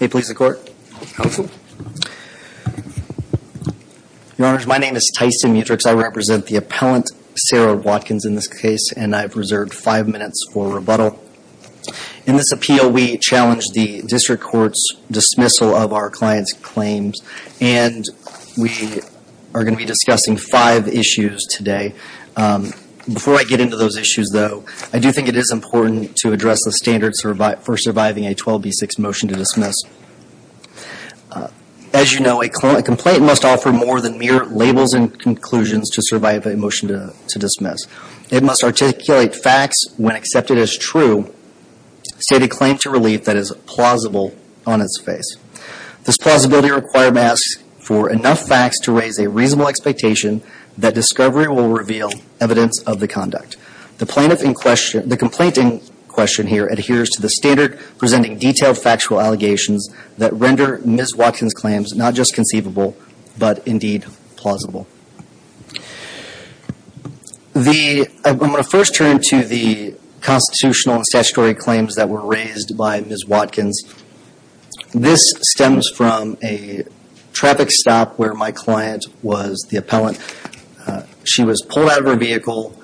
Hey Police Department. Counsel. Your Honors, my name is Tyson Mutrix. I represent the appellant Sarah Watkins in this case and I've reserved five minutes for rebuttal. In this appeal we challenge the District Court's dismissal of our client's claims and we are going to be discussing five issues today. Before I get into those issues though, I do think it is important to address the standards for surviving a 12B6 motion to dismiss. As you know, a complaint must offer more than mere labels and conclusions to survive a motion to dismiss. It must articulate facts when accepted as true, state a claim to relief that is plausible on its face. This plausibility requires masks for enough facts to raise a reasonable expectation that discovery will reveal evidence of the conduct. The plaintiff in question, the complaint in question here adheres to the standard presenting detailed factual allegations that render Ms. Watkins' claims not just conceivable but indeed plausible. I'm going to first turn to the constitutional and statutory claims that were raised by Ms. Watkins. This stems from a traffic stop where my client was the appellant. She was pulled out of her vehicle.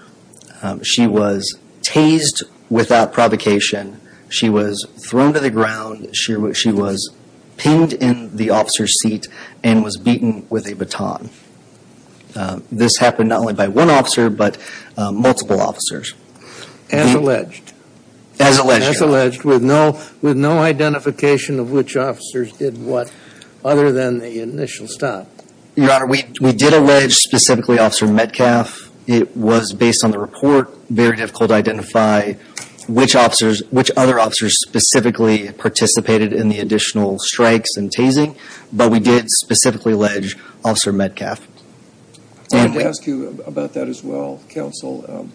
She was tased without provocation. She was thrown to the ground. She was pinned in the officer's seat and was beaten with a baton. This happened not only by one officer but multiple officers. As alleged. As alleged. As alleged with no identification of which officers did what other than the initial stop. Your Honor, we did allege specifically Officer Metcalf. It was based on the report. Very difficult to identify which other officers specifically participated in the additional strikes and tasing. But we did specifically allege Officer Metcalf. I wanted to ask you about that as well, counsel.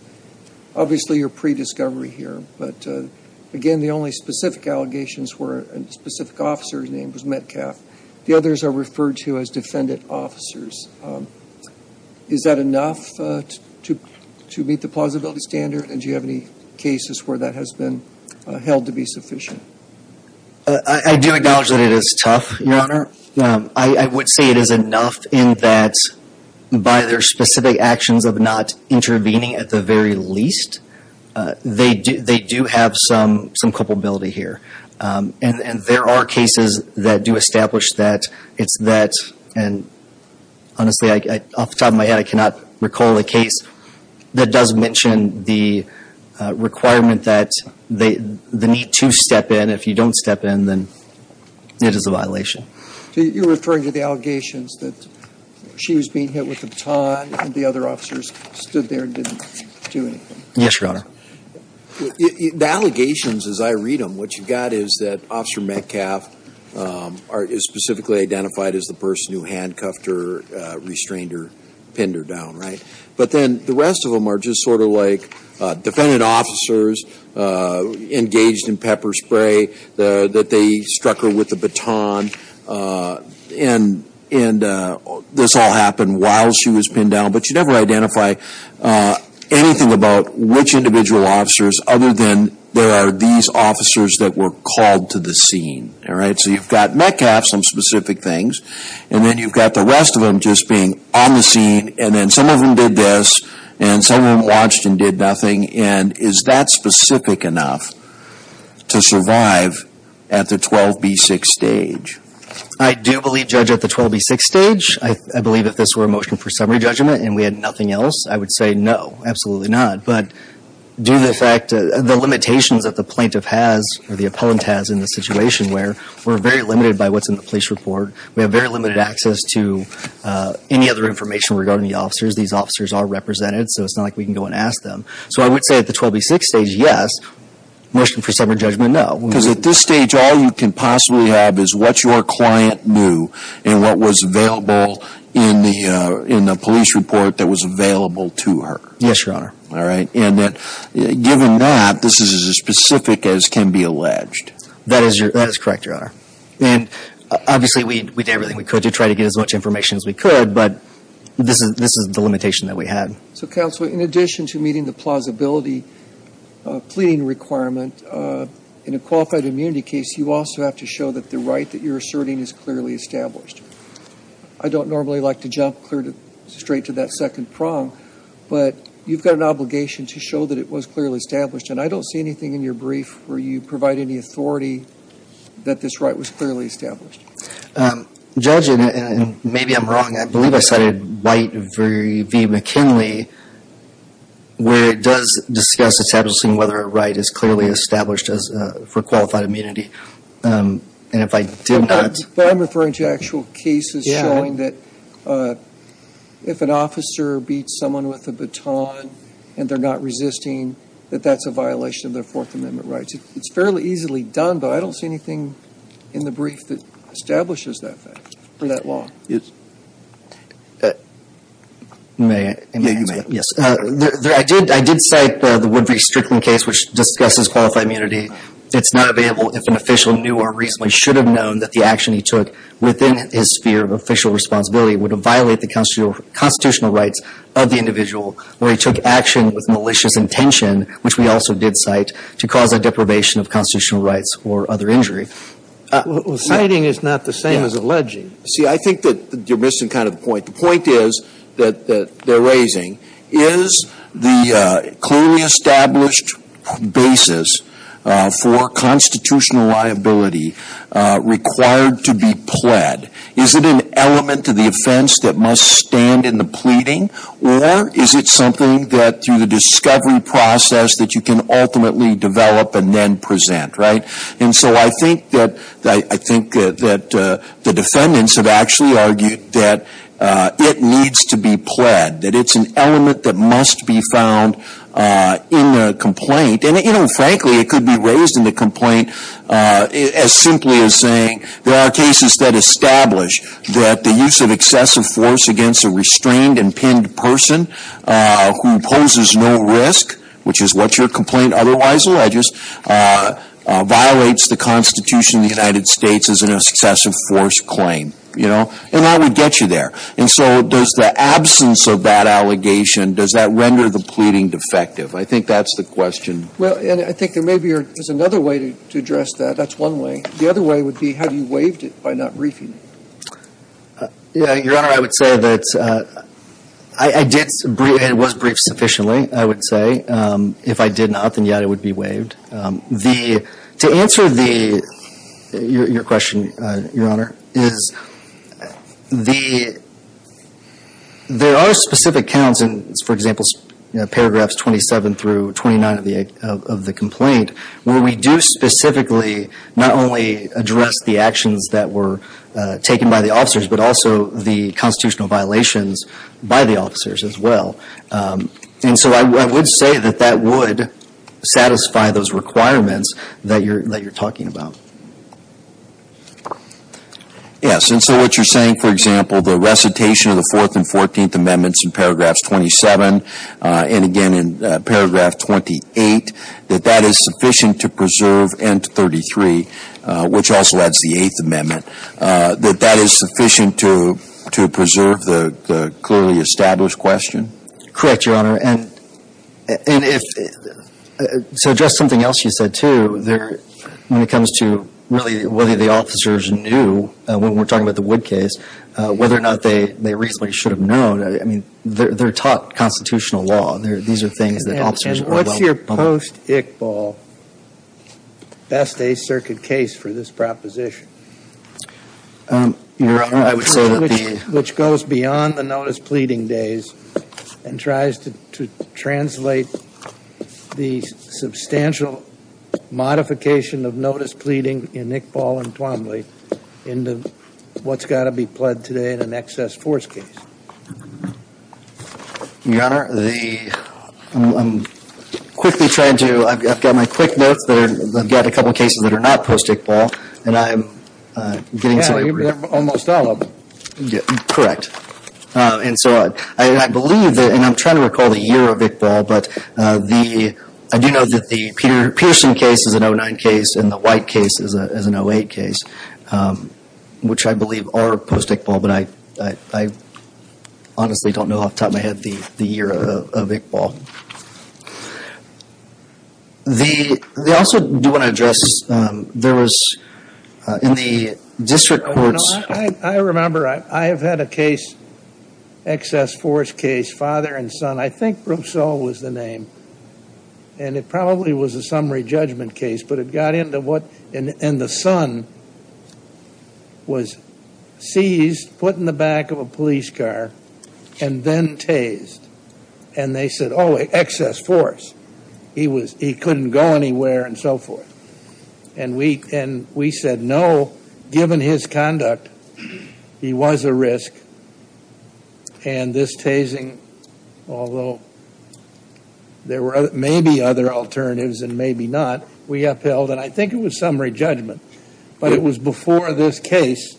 Obviously you're pre-discovery here. But again, the only specific allegations were a specific officer's name was Metcalf. The others are referred to as defendant officers. Is that enough to meet the plausibility standard? And do you have any cases where that has been held to be sufficient? I do acknowledge that it is tough, Your Honor. I would say it is enough in that by their specific actions of not intervening at the very least, they do have some culpability here. And there are cases that do establish that it's that and honestly, off the top of my head, I cannot recall a case that doesn't mention the requirement that the need to step in. If you don't step in, then it is a violation. You're referring to the allegations that she was being hit with a baton and the other officers stood there and didn't do anything? Yes, Your Honor. The allegations as I read them, what you got is that Officer Metcalf is specifically identified as the person who handcuffed her, restrained her, pinned her down, right? But then the rest of them are just sort of like defendant officers engaged in pepper spray, that they struck her with a baton and this all happened while she was pinned down. But you never identify anything about which individual officers other than there are these officers that were called to the scene, all right? So you've got Metcalf, some specific things, and then you've got the rest of them just being on the scene and then some of them did this and some of them watched and did nothing. And is that specific enough to survive at the 12B6 stage? I do believe Judge, at the 12B6 stage, I believe if this were a motion for summary judgment and we had nothing else, I would say no, absolutely not. But due to the limitations that the plaintiff has or the opponent has in the situation where we're very limited by what's in the police report, we have very limited access to any other information regarding the officers. These officers are represented, so it's not like we can go and ask them. So I would say at the 12B6 stage, yes. Motion for summary judgment, no. Because at this stage, all you can possibly have is what your client knew and what was available in the police report that was available to her. Yes, Your Honor. All right. And then given that, this is as specific as can be alleged. That is correct, Your Honor. And obviously we did everything we could to try to get as much information as we could, but this is the limitation that we had. So, Counselor, in addition to meeting the plausibility pleading requirement in a qualified immunity case, you also have to show that the right that you're asserting is clearly established. I don't normally like to jump straight to that and I don't see anything in your brief where you provide any authority that this right was clearly established. Judge, and maybe I'm wrong, I believe I cited White v. McKinley where it does discuss establishing whether a right is clearly established for qualified immunity. And if I did not... But I'm referring to actual cases showing that if an officer beats someone with a baton and they're not resisting, that that's a violation of their Fourth Amendment rights. It's fairly easily done, but I don't see anything in the brief that establishes that fact or that law. Yes. You may. Yes. I did cite the Woodbridge-Strickland case which discusses qualified immunity. It's not available if an official knew or reasonably should have known that the action he took within his sphere of official responsibility would violate the constitutional rights of the individual or he took action with malicious intention, which we also did cite, to cause a deprivation of constitutional rights or other injury. Citing is not the same as alleging. See, I think that you're missing kind of the point. The point is that they're raising, is the clearly established basis for constitutional liability required to be pled? Is it an element to the offense that must stand in the pleading? Or is it something that through the discovery process that you can ultimately develop and then present, right? And so I think that the defendants have actually argued that it needs to be pled, that it's an element that must be found in a complaint. And frankly, it could be raised in the complaint as simply as saying there are cases that establish that the use of excessive force against a restrained and pinned person who poses no risk, which is what your complaint otherwise alleges, violates the Constitution of the United States as an excessive force claim, you know? And that would get you there. And so does the absence of that allegation, does that render the pleading defective? I think that's the question. Well, and I think there may be, there's another way to address that. That's one way. The other way would be, have you waived it by not briefing? Yeah, Your Honor, I would say that I did brief, it was briefed sufficiently, I would say. If I did not, then yeah, it would be waived. The, to answer the, your question, Your Honor, is the, there are specific counts in, for example, paragraphs 27 through 29 of the complaint where we do specifically not only address the actions that were taken by the officers, but also the constitutional violations by the officers as well. And so I would say that that would satisfy those requirements that you're, that you're talking about. Yes, and so what you're saying, for example, the recitation of the 4th and 14th Amendments in paragraphs 27, and again in paragraph 28, that that is sufficient to preserve N-33, which also adds the 8th Amendment, that that is sufficient to, to preserve the, the clearly established question? Correct, Your Honor, and if, to address something else you said too, there, when it comes to really whether the officers knew, when we're talking about the Wood case, whether or not they, they reasonably should have known, I mean, they're, they're taught constitutional law. They're, these are things that officers are well aware of. And what's your post-Iqbal best Eighth Circuit case for this proposition? Your Honor, I would say that the Which, which goes beyond the notice pleading days and tries to, to translate the substantial modification of notice pleading in Iqbal and Twombly into what's got to be pled today in an excess force case. Your Honor, the, I'm quickly trying to, I've got my quick notes that are, I've got a couple cases that are not post-Iqbal, and I'm getting some Well, you've got almost all of them. Yeah, correct. And so I, I believe that, and I'm trying to recall the year of Iqbal, but the, I do know that the Peter Pearson case is an 09 case and the White case is a, is an 08 case, which I believe are post-Iqbal, but I, I, I honestly don't know off the top of my head the, the year of, of Iqbal. The, I also do want to address, there was, in the district courts Your Honor, I, I remember, I, I have had a case, excess force case, father and son, I think Brousseau was the name, and it probably was a summary judgment case, but it got into what, and the son was seized, put in the back of a police car, and then tased, and they said, oh, excess force, he was, he couldn't go anywhere and so forth. And we, and we said no, given his conduct, he was a risk, and this tasing, although there were maybe other alternatives, and maybe not, we upheld, and I think it was summary judgment, but it was before this case,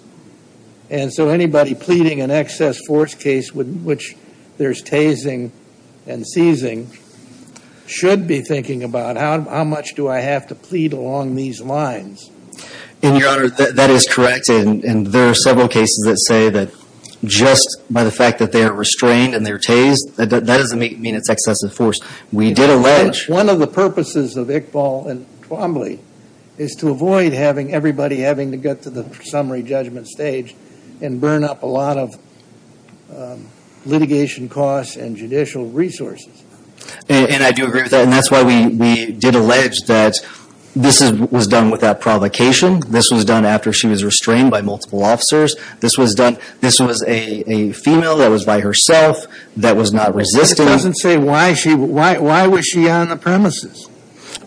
and so anybody pleading an excess force case, which there's tasing and seizing, should be thinking about how, how much do I have to plead along these lines. And, Your Honor, that, that is correct, and, and there are several cases that say that just by the fact that they are restrained and they're tased, that doesn't mean it's an excessive force. We did allege. One of the purposes of Iqbal and Twombly is to avoid having everybody having to get to the summary judgment stage and burn up a lot of litigation costs and judicial resources. And, and I do agree with that, and that's why we, we did allege that this is, was done without provocation. This was done after she was restrained by multiple officers. This was done, this was a, a female that was by herself, that was not resisting. But it doesn't say why she, why, why was she on the premises?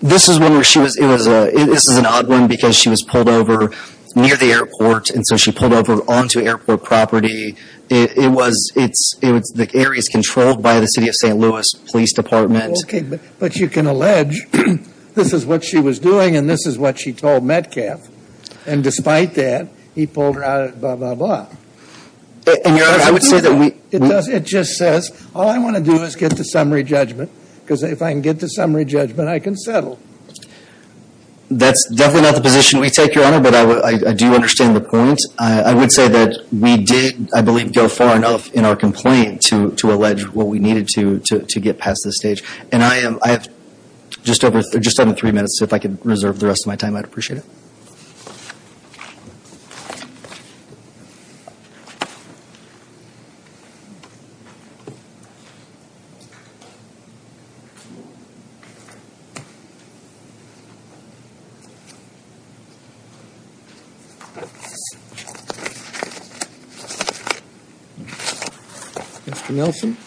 This is one where she was, it was a, this is an odd one because she was pulled over near the airport, and so she pulled over onto airport property. It, it was, it's, it was the areas controlled by the City of St. Louis Police Department. Okay, but, but you can allege this is what she was doing, and this is what she told Metcalf, and despite that, he pulled her out at blah, blah, blah. And, Your Honor, I would say that we... It does, it just says, all I want to do is get to summary judgment, because if I can get to summary judgment, I can settle. That's definitely not the position we take, Your Honor, but I would, I, I do understand the point. I, I would say that we did, I believe, go far enough in our complaint to, to allege what we needed to, to, to get past this stage. And I am, I have just over, just under three minutes, so if I could reserve the rest of my time, I'd appreciate it. Mr. Nelson?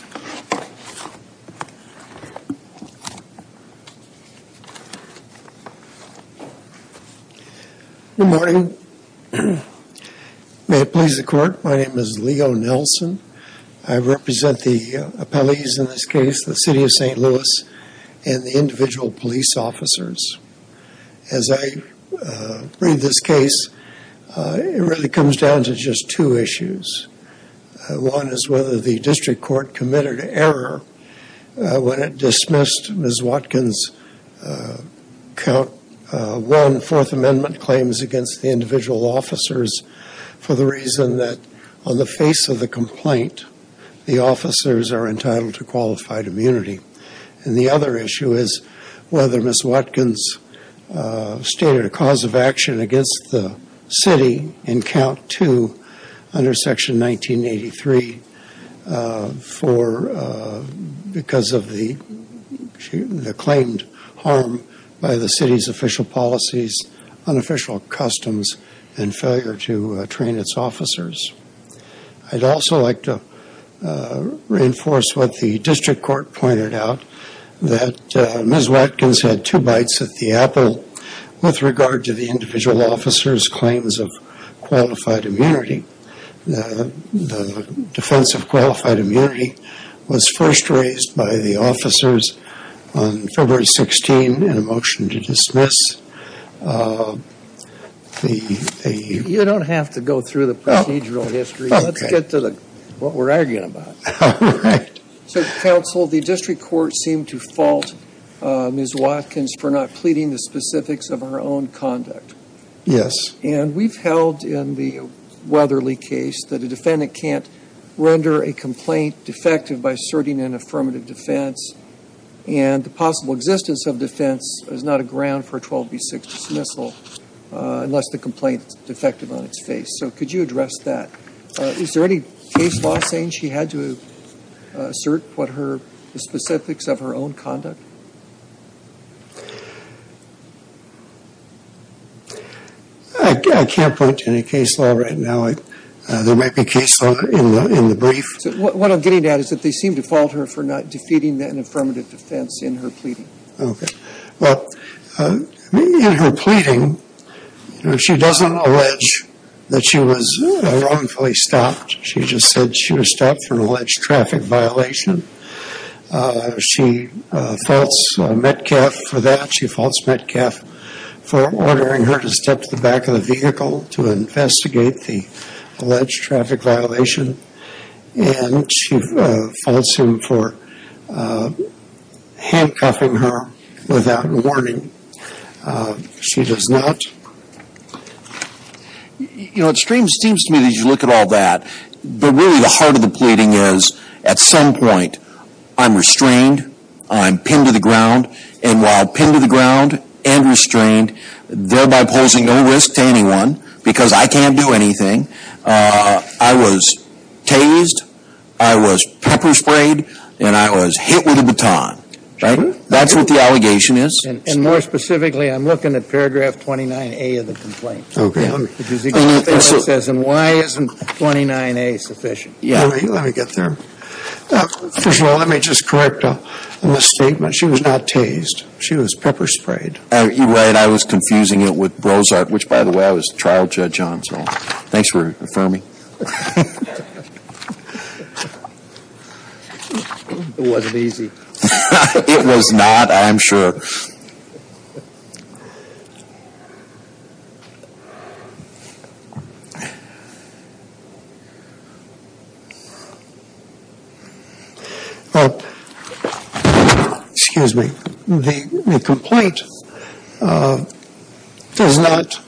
Good morning. May it please the Court, my name is Leo Nelson. I represent the appellees in this case, the City of St. Louis, and the individual police officers. As I read this case, it really comes down to just two issues. One is whether the District Court committed error when it dismissed Ms. Watkins' Count 1 Fourth Amendment claims against the individual officers for the reason that on the face of the complaint, the officers are entitled to qualified immunity. And the other issue is whether Ms. Watkins stated a cause of action against the City in Count 2 under Section 1983 because of the claimed harm by the City's official policies, unofficial customs, and failure to train its officers. I'd also like to reinforce what the District Court pointed out, that Ms. Watkins had two bites at the apple with regard to the individual officers' claims of qualified immunity. The defense of qualified immunity was first raised by the officers on February 16 in a motion to dismiss. You don't have to go through the procedural history. Let's get to what we're arguing about. So Counsel, the District Court seemed to fault Ms. Watkins for not pleading the specifics of her own conduct. And we've held in the Weatherly case that a defendant can't render a complaint defective by asserting an affirmative defense, and the possible existence of defense is not a ground for a 12b6 dismissal unless the complaint is defective on its face. So could you address that? Is there any case law saying she had to assert the specifics of her own conduct? I can't point to any case law right now. There might be case law in the brief. What I'm getting at is that they seemed to fault her for not defeating an affirmative defense in her pleading. Okay. Well, in her pleading, she doesn't allege that she was wrongfully stopped. She just said she was stopped for an alleged traffic violation. She faults Metcalfe for that. She faults Metcalfe for ordering her to step to the back of the vehicle to investigate the alleged traffic violation. And she faults him for handcuffing her without warning. She does not. You know, it seems to me that you look at all that, but really the heart of the pleading is at some point, I'm restrained, I'm pinned to the ground, and while pinned to the ground and restrained, thereby posing no risk to anyone because I can't do anything, I was tased, I was pepper-sprayed, and I was hit with a baton. Right? That's what the allegation is. And more specifically, I'm looking at paragraph 29A of the complaint. Okay. Because it says, and why isn't 29A sufficient? Let me get there. First of all, let me just correct in the statement, she was not tased. She was pepper-sprayed. You're right. I was confusing it with Brozart, which, by the way, I was trial judge on. So thanks for affirming. It wasn't easy. It was not, I'm sure. Well, excuse me. The complaint does not,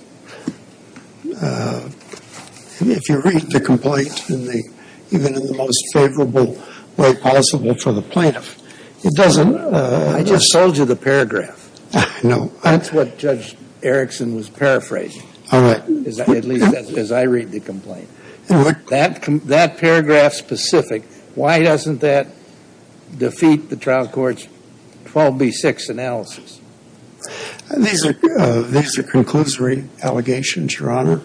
if you read the complaint, even in the most favorable way possible for the plaintiff, it doesn't I just sold you the paragraph. No. That's what Judge Erickson was paraphrasing, at least as I read the complaint. That paragraph specific, why doesn't that defeat the trial court's 12B6 analysis? These are conclusory allegations, Your Honor,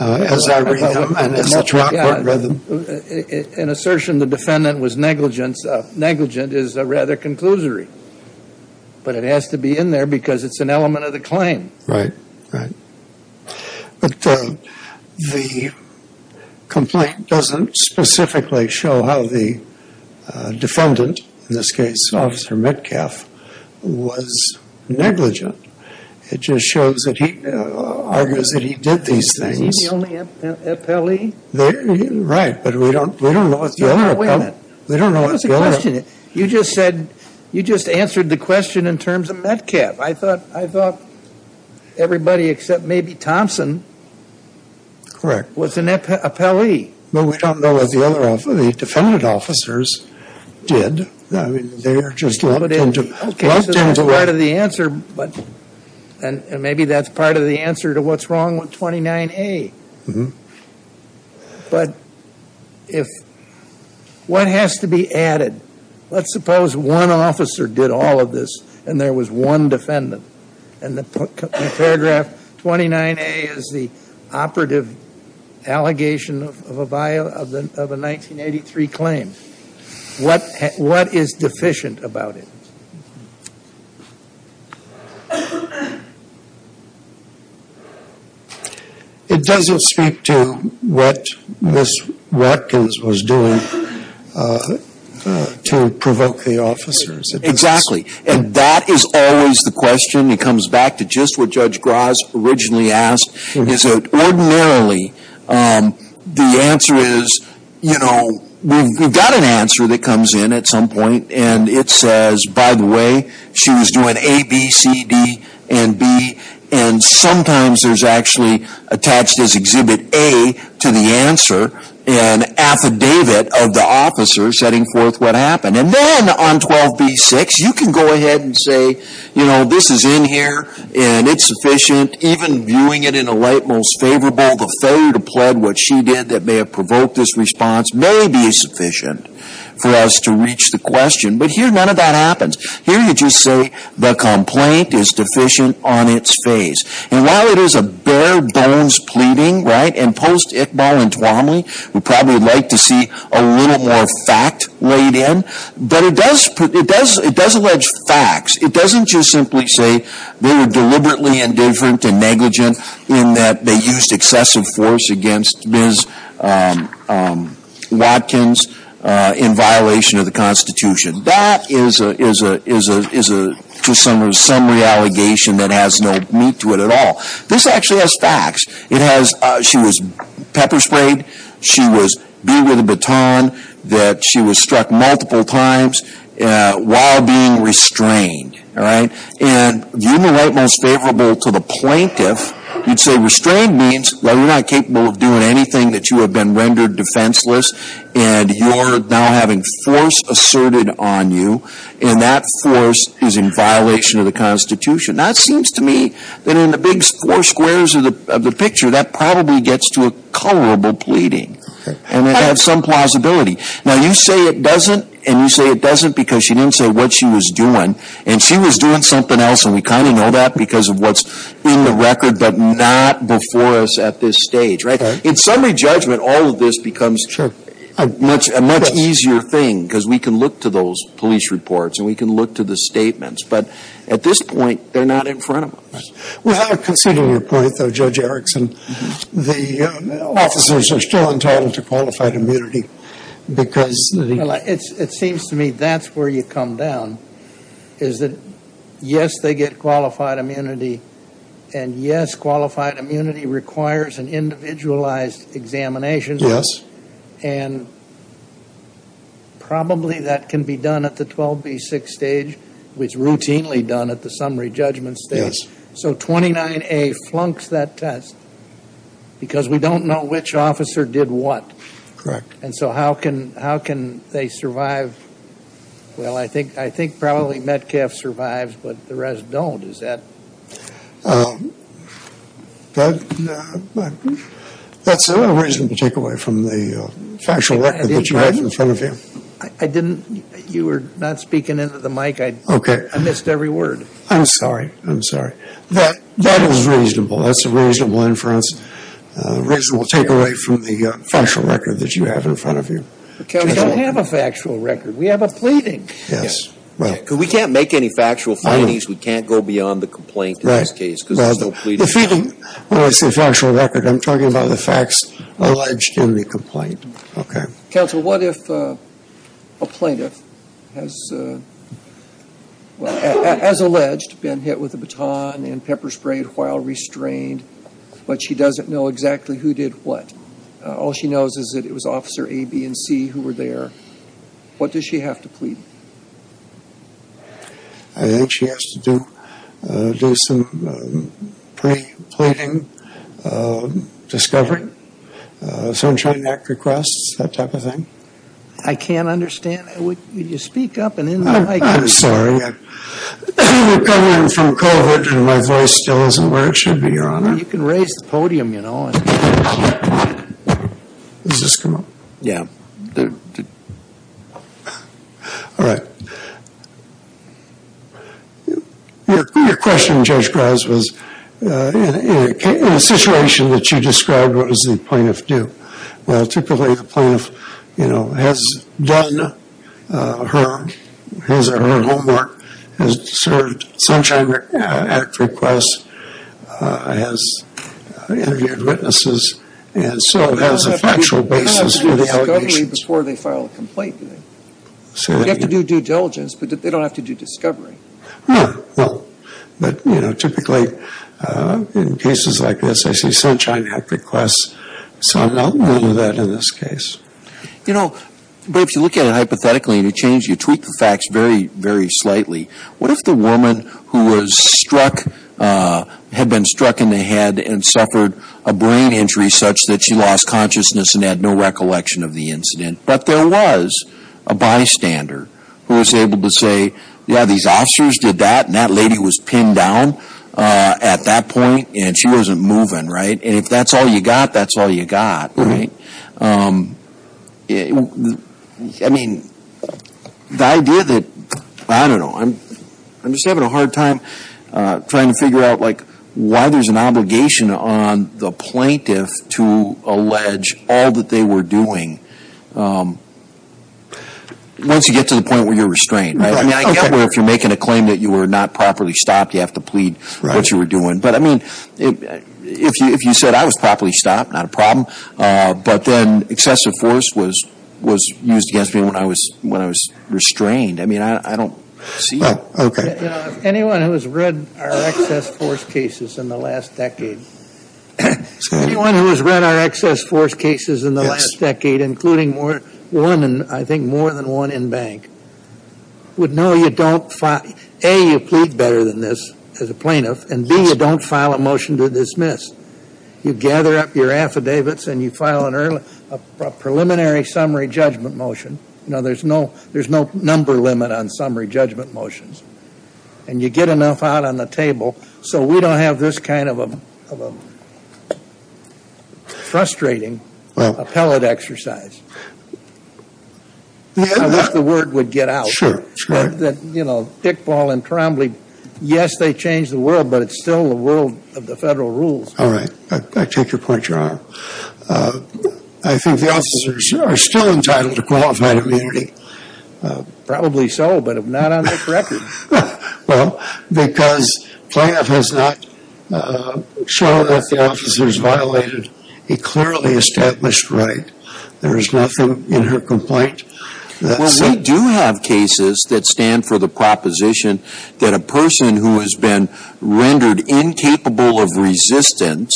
as I read them and as a trial court read them. An assertion the defendant was negligent is rather conclusory. But it has to be in there because it's an element of the claim. But the complaint doesn't specifically show how the defendant, in this case, Officer Metcalf, was negligent. It just shows that he, argues that he did these things. Was he the only appellee? Right, but we don't know what the other appellee was. Wait a minute. You just said, you just answered the question in terms of Metcalf. I thought everybody except maybe Thompson was an appellee. But we don't know what the other, the defendant officers did. I mean, they are just locked into. Okay, so that's part of the answer. And maybe that's part of the answer to what's wrong with 29A. But if, what has to be added? Let's suppose one officer did all of this and there was one defendant. And the paragraph 29A is the operative allegation of a 1983 claim. What is deficient about it? It doesn't speak to what Ms. Watkins was doing to provoke the officers. Exactly. And that is always the question. It comes back to just what Judge Gras originally asked. Ordinarily, the answer is, you know, we've got an answer that comes in at some point. And it says, by the way, she was doing A, B, C, D, and B. And sometimes there's actually attached as Exhibit A to the answer an affidavit of the officer setting forth what happened. And then on 12B-6, you can go ahead and say, you know, this is in here and it's sufficient. Even viewing it in a light most favorable, the failure to plead what she did that may have provoked this response may be sufficient for us to reach the question. But here none of that happens. Here you just say the complaint is deficient on its face. And while it is a bare-bones pleading, right, and post-Iqbal and Tuomly would probably like to see a little more fact laid in, but it does allege facts. It doesn't just simply say they were deliberately indifferent and negligent in that they used excessive force against Ms. Watkins in violation of the Constitution. That is a summary allegation that has no meat to it at all. This actually has facts. She was pepper sprayed. She was beat with a baton. She was struck multiple times while being restrained. And viewing it in a light most favorable to the plaintiff, you'd say restrained means, well, you're not capable of doing anything that you have been rendered defenseless. And you're now having force asserted on you. And that force is in violation of the Constitution. Now, it seems to me that in the big four squares of the picture, that probably gets to a colorable pleading. And it has some plausibility. Now, you say it doesn't, and you say it doesn't because she didn't say what she was doing. And she was doing something else, and we kind of know that because of what's in the record but not before us at this stage, right? In summary judgment, all of this becomes a much easier thing because we can look to those police reports and we can look to the statements. But at this point, they're not in front of us. Well, considering your point, though, Judge Erickson, the officers are still entitled to qualified immunity because they Well, it seems to me that's where you come down is that, yes, they get qualified immunity. And, yes, qualified immunity requires an individualized examination. Yes. And probably that can be done at the 12B6 stage, which is routinely done at the summary judgment stage. Yes. So 29A flunks that test because we don't know which officer did what. Correct. And so how can they survive? Well, I think probably Metcalf survives, but the rest don't. That's a reasonable takeaway from the factual record that you have in front of you. I didn't, you were not speaking into the mic. Okay. I missed every word. I'm sorry. I'm sorry. That is reasonable. That's a reasonable inference, reasonable takeaway from the factual record that you have in front of you. We don't have a factual record. We have a pleading. Yes. Well, we can't make any factual findings. We can't go beyond the complaint in this case because we're still pleading. Well, it's a factual record. I'm talking about the facts alleged in the complaint. Okay. Counsel, what if a plaintiff has, as alleged, been hit with a baton and pepper sprayed while restrained, but she doesn't know exactly who did what? All she knows is that it was Officer A, B, and C who were there. What does she have to plead? I think she has to do some pre-pleading discovery, sunshine neck requests, that type of thing. I can't understand. Would you speak up and in the mic? I'm sorry. We're coming in from COVID and my voice still isn't where it should be, Your Honor. You can raise the podium, you know. Has this come up? Yeah. All right. Your question, Judge Graz, was in a situation that you described, what does the plaintiff do? Typically, the plaintiff, you know, has done her homework, has served Sunshine Act requests, has interviewed witnesses, and so has a factual basis for the allegations. They have to do discovery before they file a complaint. You have to do due diligence, but they don't have to do discovery. No. No. But, you know, typically in cases like this, I see sunshine neck requests. So I'm not one of that in this case. You know, but if you look at it hypothetically and you change, you tweak the facts very, very slightly, what if the woman who was struck, had been struck in the head and suffered a brain injury such that she lost consciousness and had no recollection of the incident, but there was a bystander who was able to say, yeah, these officers did that and that lady was pinned down at that point and she wasn't moving, right? And if that's all you got, that's all you got, right? I mean, the idea that, I don't know, I'm just having a hard time trying to figure out, like, why there's an obligation on the plaintiff to allege all that they were doing once you get to the point where you're restrained. I mean, I get where if you're making a claim that you were not properly stopped, you have to plead what you were doing. But, I mean, if you said I was properly stopped, not a problem, but then excessive force was used against me when I was restrained. I mean, I don't see it. Okay. You know, anyone who has read our excess force cases in the last decade, anyone who has read our excess force cases in the last decade, including one, I think, more than one in bank, would know you don't, A, you plead better than this as a plaintiff, and B, you don't file a motion to dismiss. You gather up your affidavits and you file a preliminary summary judgment motion. Now, there's no number limit on summary judgment motions. And you get enough out on the table so we don't have this kind of a frustrating appellate exercise. I wish the word would get out. Sure. That, you know, dickball and trombly, yes, they changed the world, but it's still the world of the federal rules. All right. I take your point, Your Honor. I think the officers are still entitled to qualified immunity. Probably so, but if not on this record. Well, because plaintiff has not shown that the officers violated a clearly established right. There is nothing in her complaint. Well, we do have cases that stand for the proposition that a person who has been rendered incapable of resistance,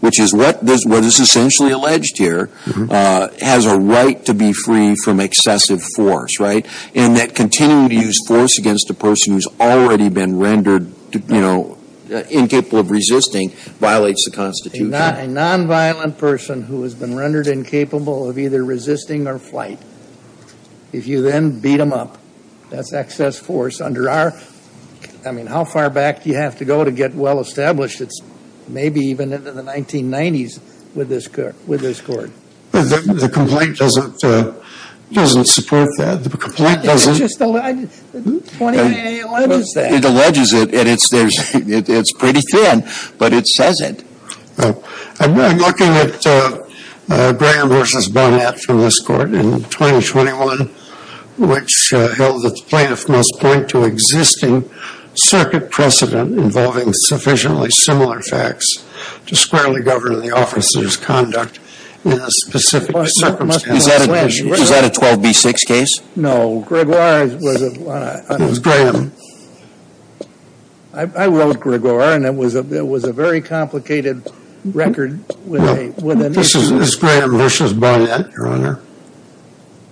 which is what is essentially alleged here, has a right to be free from excessive force, right? And that continuing to use force against a person who's already been rendered, you know, incapable of resisting violates the Constitution. A nonviolent person who has been rendered incapable of either resisting or flight, if you then beat them up, that's excess force under our, I mean, how far back do you have to go to get well-established? It's maybe even into the 1990s with this court. The complaint doesn't support that. The complaint doesn't. It just alleges that. It alleges it and it's pretty thin, but it says it. I'm looking at Graham v. Bonnet from this court in 2021, which held that the plaintiff must point to existing circuit precedent involving sufficiently similar facts to squarely govern the officer's conduct in a specific circumstance. Is that a 12B6 case? Grigor was a... It was Graham. I wrote Grigor and it was a very complicated record with an issue. This is Graham v. Bonnet, Your Honor.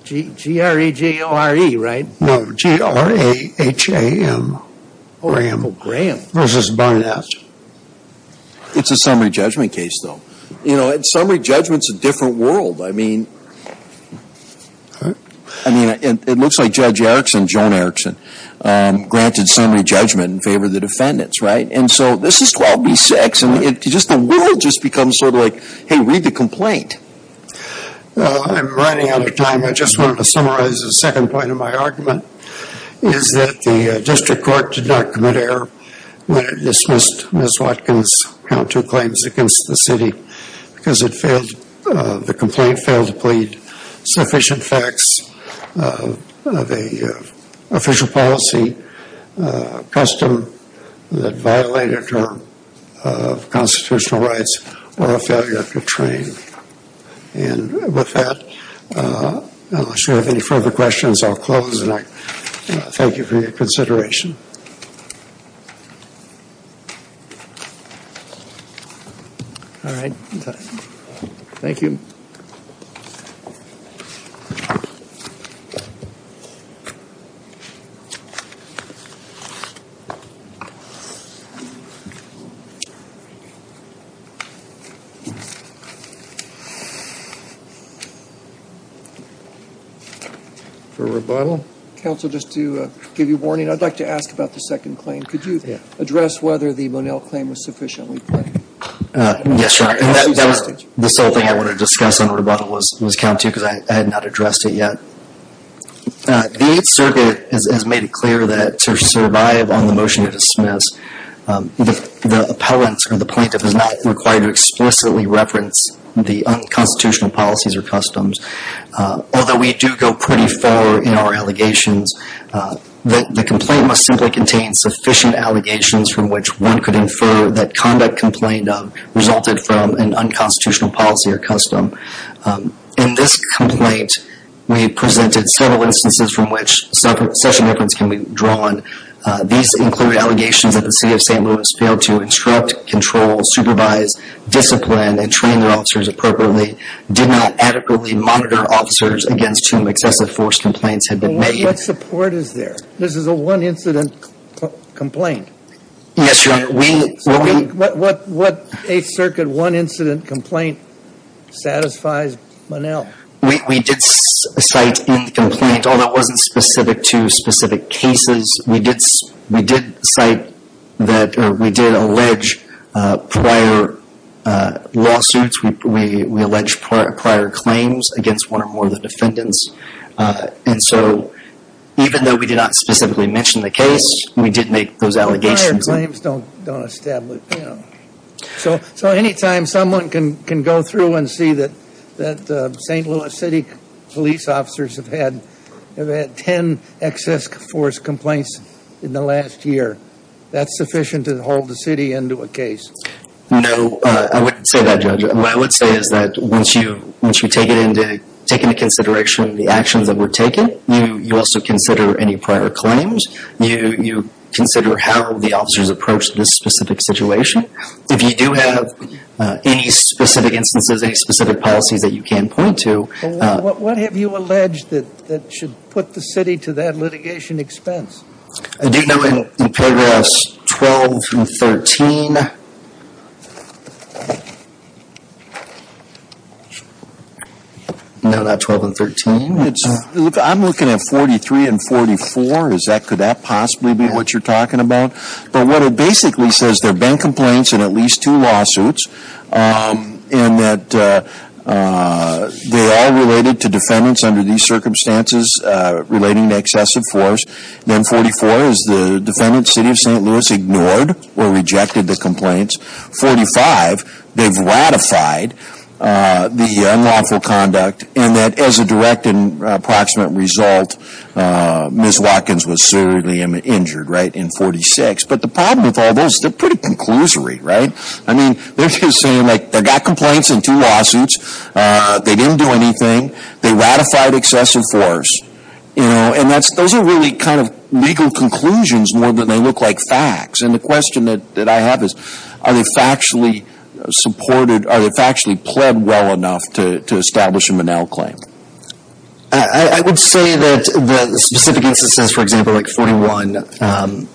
G-R-E-G-O-R-E, right? No, G-R-A-H-A-M. Oh, Graham. Graham v. Bonnet. It's a summary judgment case, though. You know, summary judgment's a different world. I mean, it looks like Judge Erickson, Joan Erickson, granted summary judgment in favor of the defendants, right? And so this is 12B6 and the world just becomes sort of like, hey, read the complaint. I'm running out of time. I just wanted to summarize the second point of my argument, is that the district court did not commit error when it dismissed Ms. Watkins' count two claims against the city because the complaint failed to plead sufficient facts of an official policy custom that violated her constitutional rights or a failure to train. And with that, unless you have any further questions, I'll close. And I thank you for your consideration. All right. Thank you. For rebuttal. Counsel, just to give you a warning, I'd like to ask for a moment of silence. I'm going to ask about the second claim. Could you address whether the Monell claim was sufficiently claimed? Yes, Your Honor. And that was the sole thing I wanted to discuss on rebuttal was count two because I had not addressed it yet. The Eighth Circuit has made it clear that to survive on the motion to dismiss, the appellant or the plaintiff is not required to explicitly reference the unconstitutional policies or customs. Although we do go pretty far in our allegations, the complaint must simply contain sufficient allegations from which one could infer that conduct complained of resulted from an unconstitutional policy or custom. In this complaint, we presented several instances from which such a reference can be drawn. These include allegations that the city of St. Louis failed to instruct, control, supervise, discipline, and train their officers appropriately, did not adequately monitor officers against whom excessive force complaints had been made. What support is there? This is a one-incident complaint. Yes, Your Honor. What Eighth Circuit one-incident complaint satisfies Monell? We did cite in the complaint, although it wasn't specific to specific cases, we did cite that or we did allege prior lawsuits. We allege prior claims against one or more of the defendants. And so even though we did not specifically mention the case, we did make those allegations. Prior claims don't establish. So anytime someone can go through and see that St. Louis City police officers have had 10 excess force complaints in the last year, that's sufficient to hold the city into a case? No, I wouldn't say that, Judge. What I would say is that once you take into consideration the actions that were taken, you also consider any prior claims. You consider how the officers approached this specific situation. If you do have any specific instances, any specific policies that you can point to. What have you alleged that should put the city to that litigation expense? I do know in paragraphs 12 through 13. No, not 12 and 13. I'm looking at 43 and 44. Could that possibly be what you're talking about? But what it basically says, there have been complaints in at least two lawsuits. And that they are related to defendants under these circumstances relating to excessive force. Then 44 is the defendant, City of St. Louis, ignored or rejected the complaints. 45, they've ratified the unlawful conduct. And that as a direct and approximate result, Ms. Watkins was severely injured, right, in 46. But the problem with all those, they're pretty conclusory, right? I mean, they're just saying, like, they've got complaints in two lawsuits. They didn't do anything. They ratified excessive force. You know, and those are really kind of legal conclusions more than they look like facts. And the question that I have is, are they factually supported? Are they factually pled well enough to establish them an out claim? I would say that the specific instances, for example, like 41,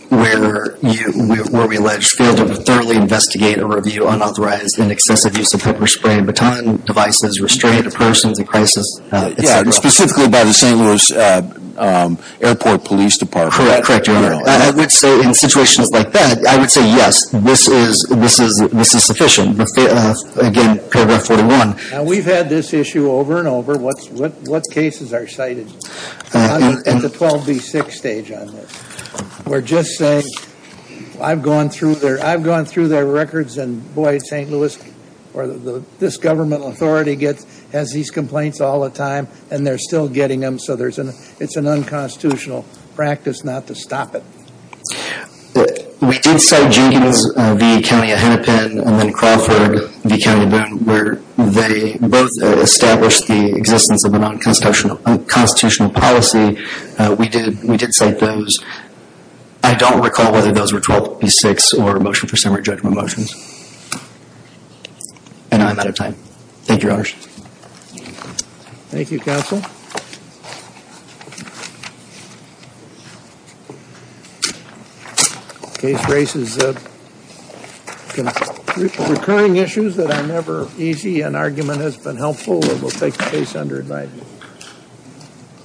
where we allege failed to thoroughly investigate or review unauthorized and excessive use of pepper spray and baton devices, restraint of persons in crisis. Yeah, and specifically by the St. Louis Airport Police Department. Correct, correct. I would say in situations like that, I would say, yes, this is sufficient. Again, paragraph 41. Now, we've had this issue over and over. What cases are cited at the 12B6 stage on this? We're just saying, I've gone through their records, and, boy, St. Louis, or this government authority gets, has these complaints all the time, and they're still getting them. So it's an unconstitutional practice not to stop it. We did cite Jenkins v. County of Hennepin and then Crawford v. County of Boone, where they both established the existence of a nonconstitutional policy. We did cite those. I don't recall whether those were 12B6 or a motion for summary judgment motions. Thank you, Your Honors. Thank you, Counsel. Case raises recurring issues that are never easy. An argument has been helpful, and we'll take the case under advisement.